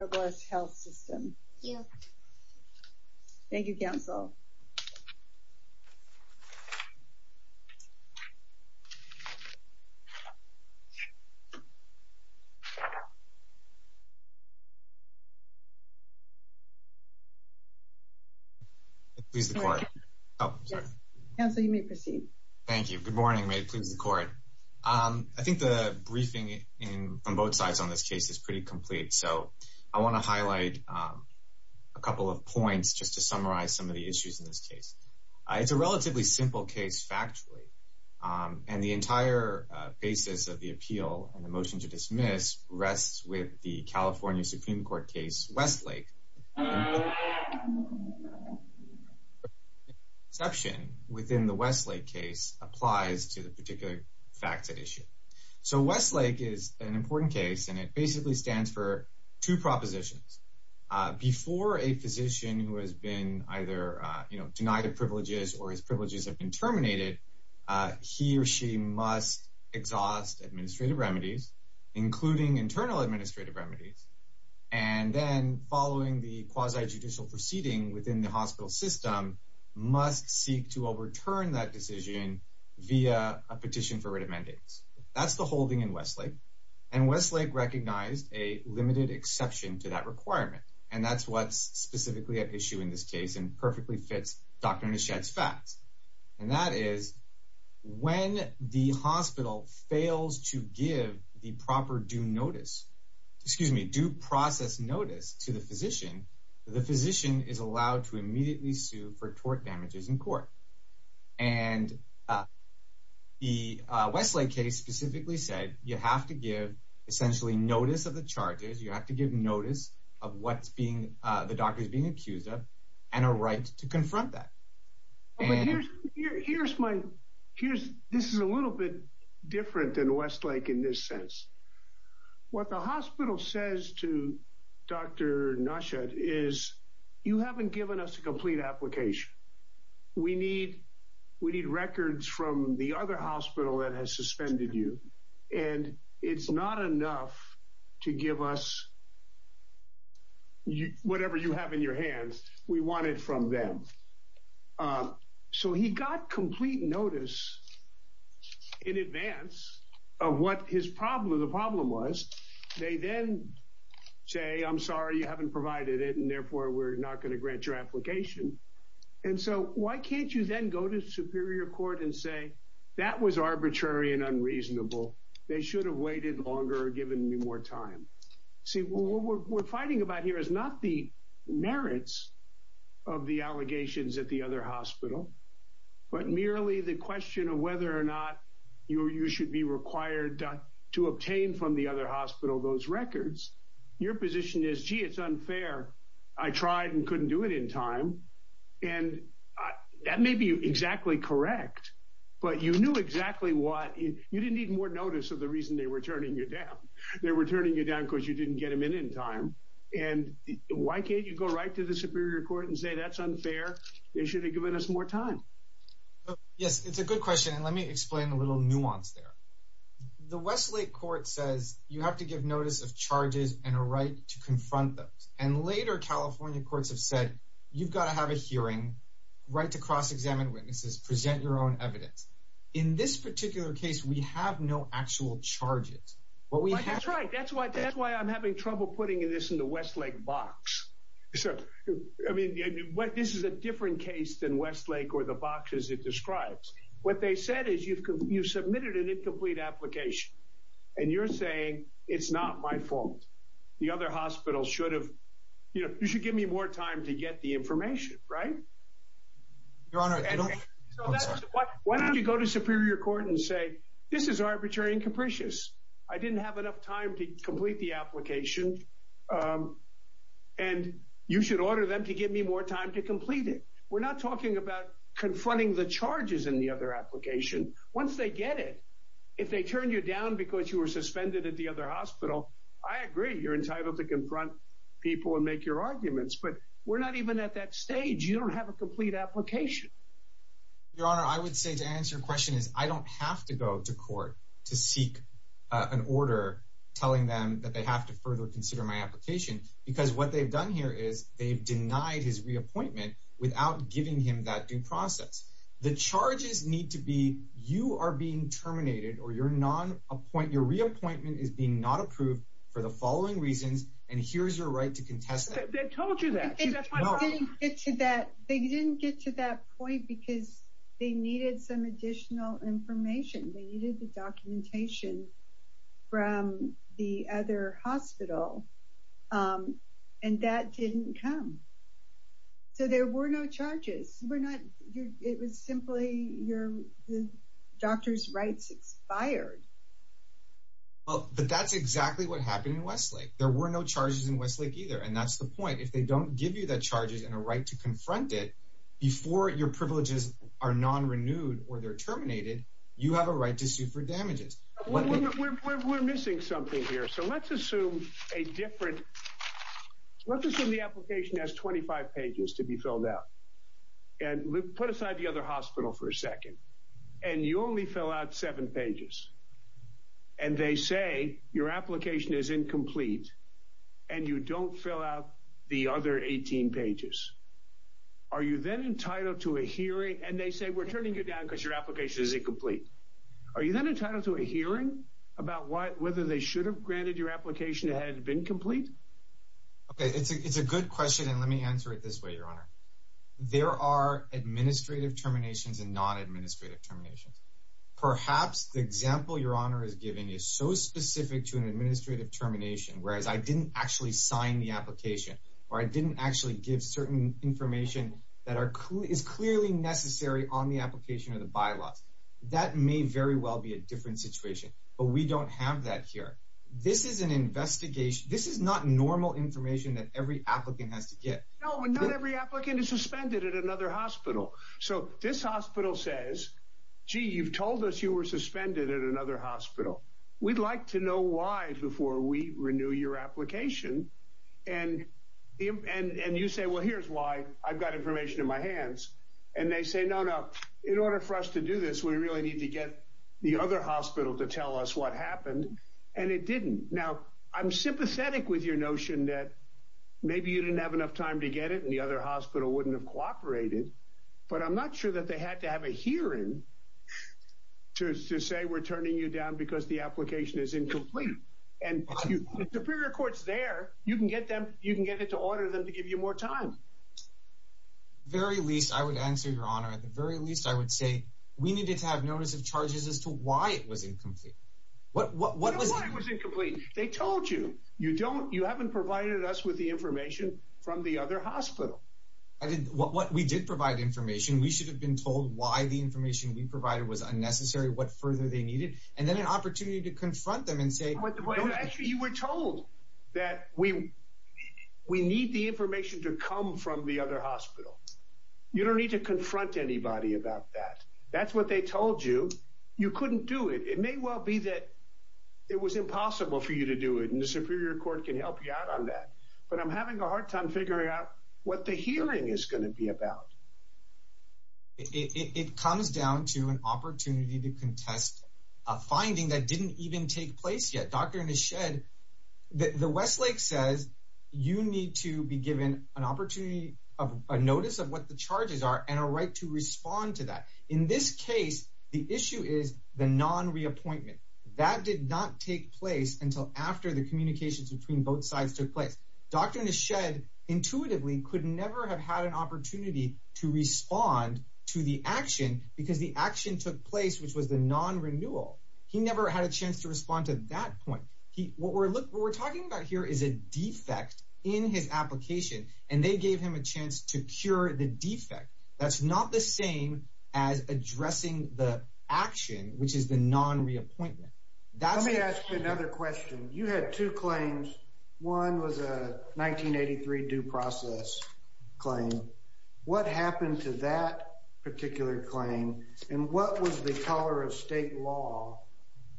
Robles Health System. Thank you. Thank you, Counsel. Please the Court. Counsel, you may proceed. Thank you. Good morning. May it please the Court. I think the briefing from both sides on this case is pretty complete. So I want to highlight a couple of points just to summarize some of the issues in this case. It's a relatively simple case, factually, and the entire basis of the appeal and the motion to dismiss rests with the California Supreme Court case Westlake. The exception within the Westlake case applies to the particular facts at issue. So Westlake is an important case and it basically stands for two propositions. Before a physician who has been either, you know, denied of privileges or his privileges have been terminated, he or she must exhaust administrative remedies, including internal administrative remedies, and then following the quasi judicial proceeding within the hospital system, must seek to overturn that Westlake. And Westlake recognized a limited exception to that requirement. And that's what's specifically at issue in this case and perfectly fits Dr. Nashed's facts. And that is when the hospital fails to give the proper due notice, excuse me, due process notice to the physician, the physician is allowed to immediately sue for tort damages in court. And the Westlake case specifically said you have to give essentially notice of the charges, you have to give notice of what's being, the doctor is being accused of, and a right to confront that. Here's my, here's, this is a little bit different than Westlake in this sense. What the hospital says to Dr. Nashed is, you haven't given us a complete application. We need, we need records from the other hospital that has and it's not enough to give us whatever you have in your hands, we want it from them. So he got complete notice in advance of what his problem, the problem was, they then say, I'm sorry, you haven't provided it. And therefore, we're not going to grant your application. And so why can't you then go to Superior Court and say, that was arbitrary and unreasonable. They should have waited longer, given me more time. See, what we're fighting about here is not the merits of the allegations at the other hospital, but merely the question of whether or not you should be required to obtain from the other hospital those records. Your position is, gee, it's unfair. I tried and couldn't do it in time. And that may be exactly correct. But you knew exactly what, you didn't need more notice of the reason they were turning you down. They were turning you down because you didn't get them in in time. And why can't you go right to the Superior Court and say, that's unfair. They should have given us more time. Yes, it's a good question. And let me explain a little nuance there. The Westlake court says you have to give notice of charges and a right to have a hearing, right to cross-examine witnesses, present your own evidence. In this particular case, we have no actual charges. That's right. That's why I'm having trouble putting this in the Westlake box. I mean, this is a different case than Westlake or the boxes it describes. What they said is you've submitted an incomplete application. And you're saying, it's not my fault. The other hospital should have, you know, right. Your Honor, why don't you go to Superior Court and say, this is arbitrary and capricious. I didn't have enough time to complete the application. And you should order them to give me more time to complete it. We're not talking about confronting the charges in the other application. Once they get it, if they turn you down because you were suspended at the other hospital, I agree you're entitled to confront people and make your arguments. But we're not even at that stage. You don't have a complete application. Your Honor, I would say to answer your question is I don't have to go to court to seek an order telling them that they have to further consider my application. Because what they've done here is they've denied his reappointment without giving him that due process. The charges need to be you are being terminated or your non-appointment, your reappointment is being not approved for the following reasons. And here's your right to get to that. They didn't get to that point because they needed some additional information. They needed the documentation from the other hospital. And that didn't come. So there were no charges were not. It was simply your doctor's rights expired. Oh, but that's exactly what happened in Westlake. There were no charges in a right to confront it before your privileges are non renewed or they're terminated. You have a right to sue for damages. We're missing something here. So let's assume a different let's assume the application has 25 pages to be filled out and put aside the other hospital for a second. And you only fill out seven pages. And they say your application is incomplete and you don't fill out the other 18 pages. Are you then entitled to a hearing? And they say we're turning you down because your application is incomplete. Are you then entitled to a hearing about what whether they should have granted your application had it been complete? Okay, it's a good question. And let me answer it this way. Your honor, there are administrative terminations and non administrative terminations. Perhaps the example your honor is giving you so specific to an administrative termination. Whereas I didn't actually sign the application or I didn't actually give certain information that are is clearly necessary on the application of the bylaws. That may very well be a different situation, but we don't have that here. This is an investigation. This is not normal information that every applicant has to get. No, not every applicant is suspended at another hospital. So this hospital says, gee, you've told us you were suspended at another hospital. We'd like to know why before we renew your application. And and and you say, well, here's why I've got information in my hands. And they say, no, no. In order for us to do this, we really need to get the other hospital to tell us what happened. And it didn't. Now I'm sympathetic with your notion that maybe you didn't have enough time to get it and the other hospital wouldn't have cooperated. But I'm not sure that they had to have a hearing to say we're the application is incomplete and superior courts there. You can get them. You can get it to order them to give you more time. Very least, I would answer your honor. At the very least, I would say we needed to have notice of charges as to why it was incomplete. What? What? What was it complete? They told you you don't. You haven't provided us with the information from the other hospital. I didn't. What? What? We did provide information. We should have been told why the information we provided was you to confront them and say what? Actually, you were told that we we need the information to come from the other hospital. You don't need to confront anybody about that. That's what they told you. You couldn't do it. It may well be that it was impossible for you to do it. And the Superior Court can help you out on that. But I'm having a hard time figuring out what the hearing is going to be about. It comes down to an opportunity to contest a finding that didn't even take place yet. Doctor in his shed. The Westlake says you need to be given an opportunity of a notice of what the charges are and a right to respond to that. In this case, the issue is the non reappointment that did not take place until after the communications between both sides took place. Doctor in his head intuitively could never have had an opportunity to respond to the action because the action took place, which was the non renewal. He never had a chance to respond to that point. What we're talking about here is a defect in his application, and they gave him a chance to cure the defect. That's not the same as addressing the action, which is the non reappointment. That's me. Ask 83 due process claim. What happened to that particular claim? And what was the color of state law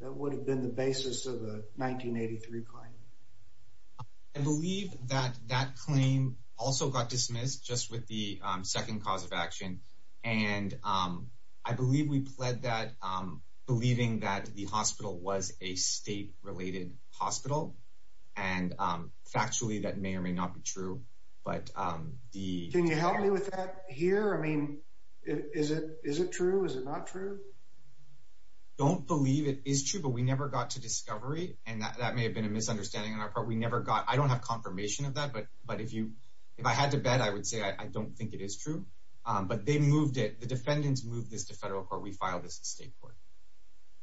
that would have been the basis of the 1983 claim? I believe that that claim also got dismissed just with the second cause of action. And, um, I believe we pled that believing that the hospital was a state not be true. But, um, the can you help me with that here? I mean, is it? Is it true? Is it not true? Don't believe it is true, but we never got to discovery, and that may have been a misunderstanding on our part. We never got. I don't have confirmation of that. But but if you if I had to bet, I would say I don't think it is true. But they moved it. The defendants moved this to federal court. We filed this state court.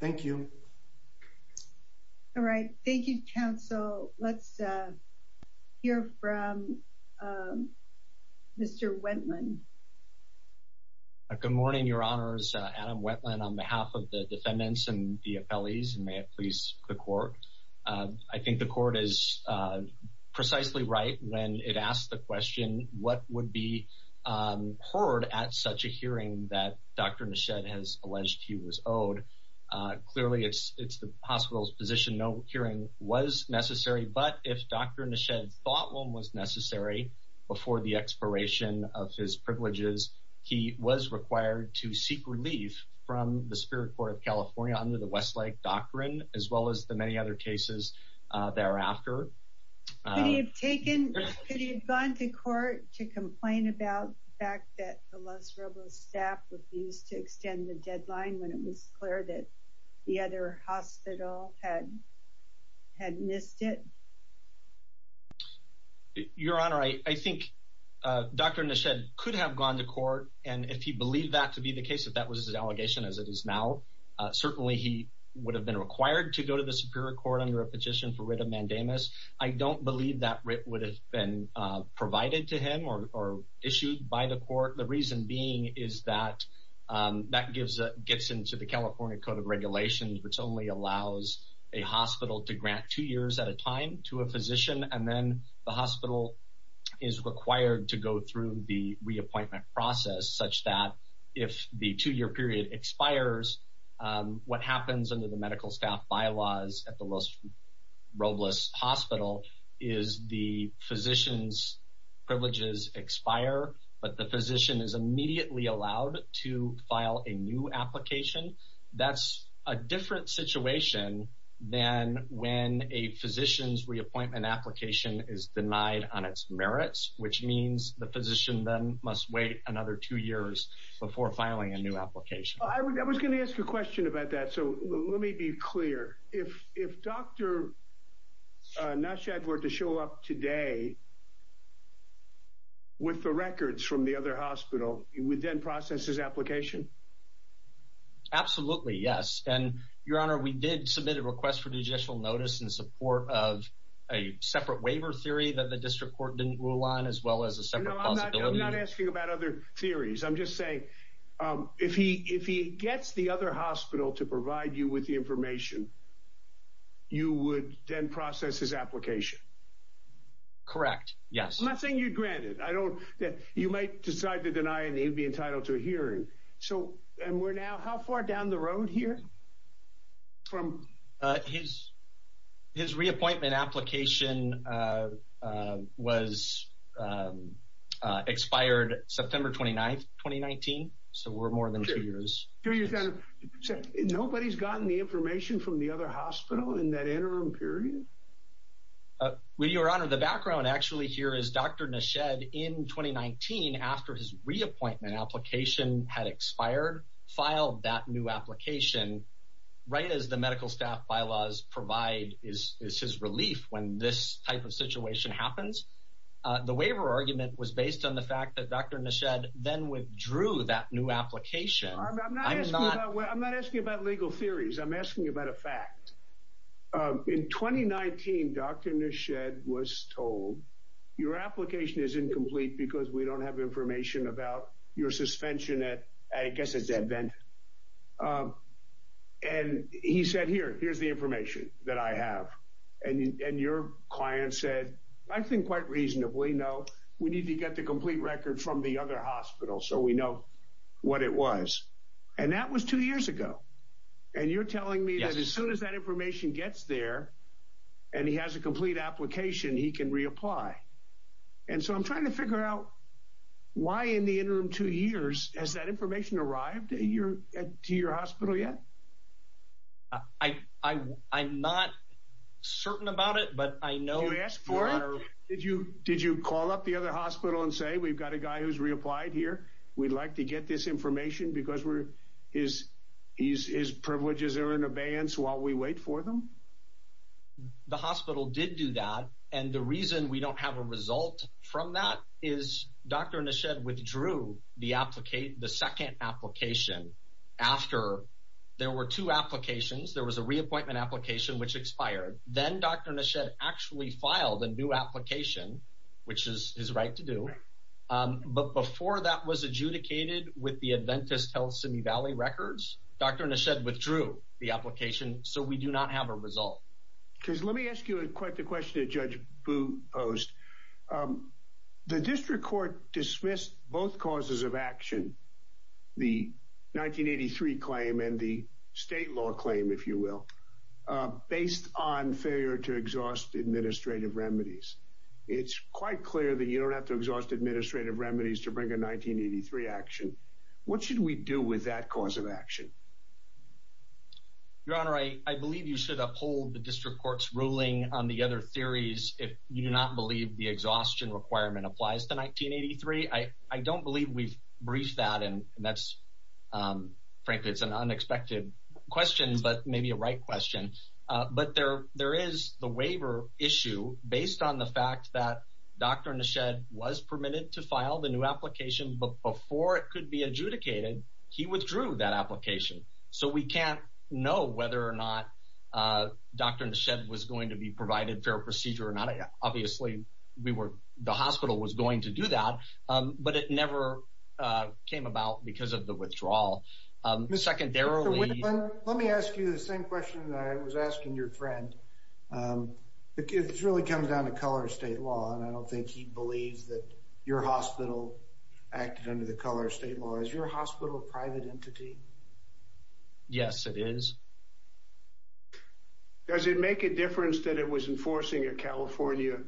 Thank you. All right. Thank you, Council. Let's, uh, you're from, um, Mr Wendland. Good morning, Your Honor's Adam Wetland on behalf of the defendants and the appellees. May it please the court? I think the court is precisely right when it asked the question. What would be, um, heard at such a hearing that Dr Shed has alleged he was owed? Clearly, it's it's the hospital's position. No hearing was necessary. But if Dr Nishan thought one was necessary before the expiration of his privileges, he was required to seek relief from the Spirit Court of California under the Westlake doctrine, as well as the many other cases thereafter. Uh, you've taken it. You've gone to court to complain about the fact that the Los Robles staff refused to extend the deadline when it was clear that the other hospital had had missed it. Your Honor, I think Dr Nishan could have gone to court. And if he believed that to be the case, if that was his allegation, as it is now, certainly he would have been required to go to the Superior Court under a petition for written mandamus. I don't believe that would have been provided to him or issued by the court. The reason being is that that gives gets into the California Code of Regulations, which only allows a hospital to grant two years at a time to a physician. And then the hospital is required to go through the reappointment process such that if the two year period expires, what happens under the medical staff bylaws at the Los Robles Hospital is the physician is immediately allowed to file a new application. That's a different situation than when a physician's reappointment application is denied on its merits, which means the physician then must wait another two years before filing a new application. I was going to ask a question about that. So let me be clear. If if Dr Nishan were to show up today with the records from the other hospital, you would then process his application? Absolutely. Yes. And, Your Honor, we did submit a request for judicial notice in support of a separate waiver theory that the district court didn't rule on as well as a separate. I'm not asking about other theories. I'm just saying if he if he gets the other hospital to provide you with the information, you would then process his application. Correct. Yes. I'm not saying you'd grant it. I don't that you might decide to deny and he'd be entitled to a hearing. So and we're now how far down the road here from his his reappointment application, uh, was, uh, expired September 29th, 2019. So we're more than two years. Nobody's gotten the information from the other hospital in that interim period. Uh, well, Your Honor, the background actually here is Dr Nishan in 2019 after his reappointment application had expired, filed that new application right as the medical staff bylaws provide is his relief. When this type of situation happens, the waiver argument was based on the fact that Dr Nishan then withdrew that new application. I'm not I'm not asking about legal theories. I'm asking about a fact. In 2019, Dr Nishan was told your application is incomplete because we don't have information about your suspension at, I guess it's invented. And he said, Here, here's the information that I have. And your client said, I think quite reasonably. No, we need to get the complete record from the other hospital so we know what it was. And that was two years ago. And you're telling me that as soon as that information gets there and he has a complete application, he can reapply. And so I'm trying to figure out why in the interim two years has that information arrived to your hospital yet? I'm not certain about it, but I know you asked for it. Did you? Did you call up the other hospital and say, We've got a guy who's reapplied here. We'd like to get this information because we're his. He's his privileges are in abeyance while we wait for them. The hospital did do that. And the reason we don't have a result from that is Dr Nishan withdrew the application. The second application after there were two applications, there was a reappointment application which expired. Then Dr Nishan actually filed a new application which is his right to do. But before that was adjudicated with the Adventist Health Simi Valley records, Dr Nishan withdrew the application. So we do not have a result because let me ask you quite the question that Judge Boo posed. Um, the district court dismissed both causes of action, the 1983 claim and the state law claim, if you will, based on failure to exhaust administrative remedies. It's quite clear that you don't have to exhaust administrative remedies to bring a 1983 action. What should we do with that cause of action? Your Honor, I believe you should uphold the district court's ruling on the other theories. If you do not believe the exhaustion requirement applies to 1983, I I don't believe we've briefed that. And that's, um, frankly, it's an right question. But there there is the waiver issue based on the fact that Dr Nishan was permitted to file the new application before it could be adjudicated. He withdrew that application. So we can't know whether or not, uh, Dr Nishan was going to be provided fair procedure or not. Obviously, we were the hospital was going to do that, but it never came about because of the withdrawal. Um, secondarily, let me ask you the same question that I was asking your friend. Um, it's really comes down to color of state law, and I don't think he believes that your hospital acted under the color of state law. Is your hospital private entity? Yes, it is. Does it make a difference that it was enforcing a California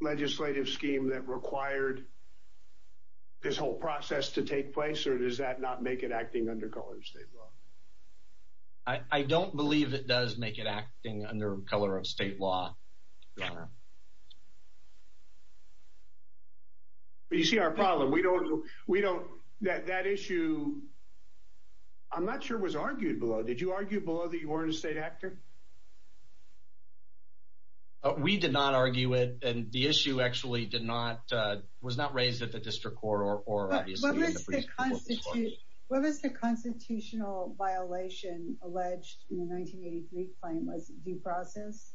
legislative scheme that required this whole process to take place? Or does that not make it acting under colors? I don't believe it does make it acting under color of state law. You see our problem? We don't. We don't that that issue I'm not sure was argued below. Did you argue below that you weren't a state actor? We did not argue it, and the issue actually did not was not raised at the district court or or what was the constitution? What was the constitutional violation alleged in 1983? Claim was due process.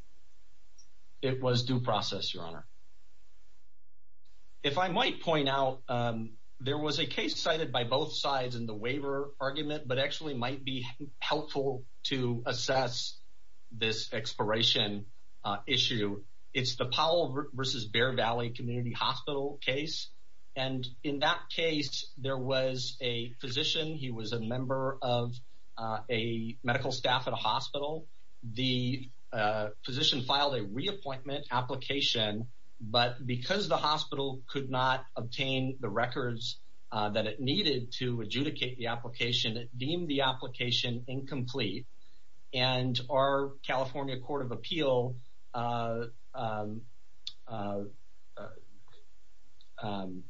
It was due process, Your Honor. If I might point out, um, there was a case cited by both sides in the waiver argument, but actually might be helpful to assess this expiration issue. It's the Powell versus Bear Valley Community Hospital case, and in that case, there was a physician. He was a member of a medical staff at a hospital. The physician filed a reappointment application, but because the hospital could not obtain the records that it needed to adjudicate the application, it deemed the application incomplete. And our California Court of Appeal, uh, uh, um,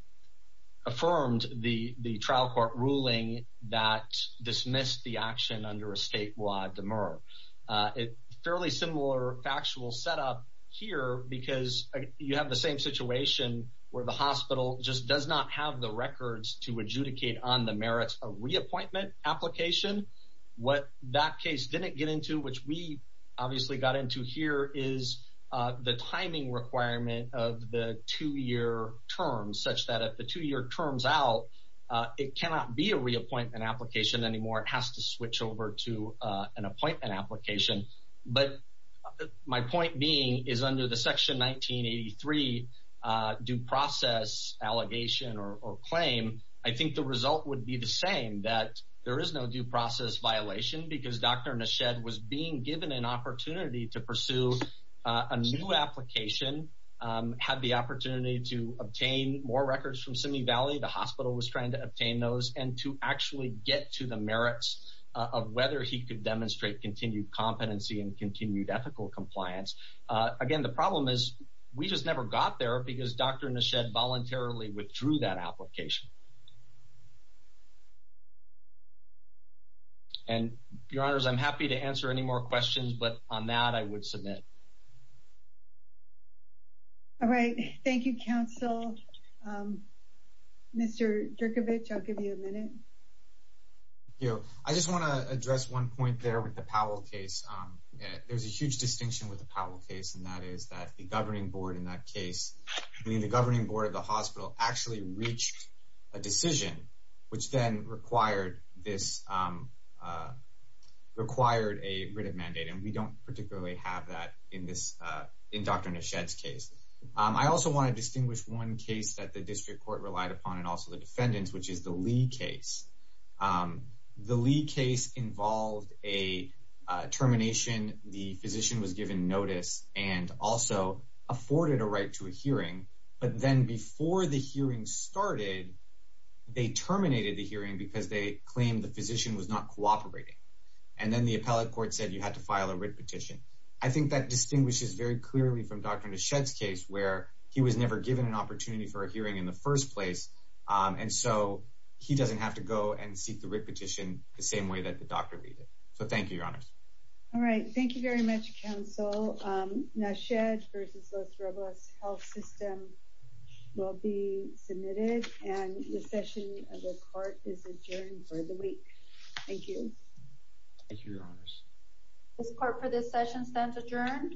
affirmed the trial court ruling that dismissed the action under a statewide demur. It's fairly similar factual set up here because you have the same situation where the hospital just does not have the records to adjudicate on the merits of reappointment application. What that case didn't get into, which we obviously got into here, is the timing requirement of the two year terms such that at the two year terms out, it cannot be a reappointment application anymore. It has to switch over to an appointment application. But my point being is under the section 1983 due process allegation or claim. I think the result would be the same that there is no due process violation because Dr Nished was being given an opportunity to pursue a new application, um, had the opportunity to obtain more records from Simi Valley. The hospital was trying to obtain those and to actually get to the merits of whether he could demonstrate continued competency and continued ethical compliance. Again, the problem is we just never got there because Dr Nished voluntarily withdrew that application. And, Your Honors, I'm happy to answer any more questions, but on that I would submit. All right. Thank you, Council. Um, Mr Dierkovic, I'll give you a minute. You know, I just want to address one point there with the Powell case. Um, there's a huge distinction with the Powell case, and that is that the governing board in that case, I mean, the governing board of the hospital actually reached a decision, which then required this, um, uh, required a written mandate. And we don't particularly have that in this, uh, in Dr Nished's case. I also want to distinguish one case that the district court relied upon and also the defendants, which is the Lee case. Um, the Lee case involved a termination. The physician was given notice and also afforded a right to a hearing. But then before the hearing started, they terminated the hearing because they claimed the physician was not cooperating. And then the appellate court said you had to file a writ petition. I think that distinguishes very clearly from Dr Nished's case where he was never given an opportunity for a hearing in the first place. Um, and so he doesn't have to go and seek the writ petition the same way that the doctor did. So thank you, Your Honors. All right. Thank you very much, Council. Um, Nished versus Los Robles Health System will be submitted, and the session of the court is adjourned for the week. Thank you. Thank you, Your Honors. This court for this session stands adjourned.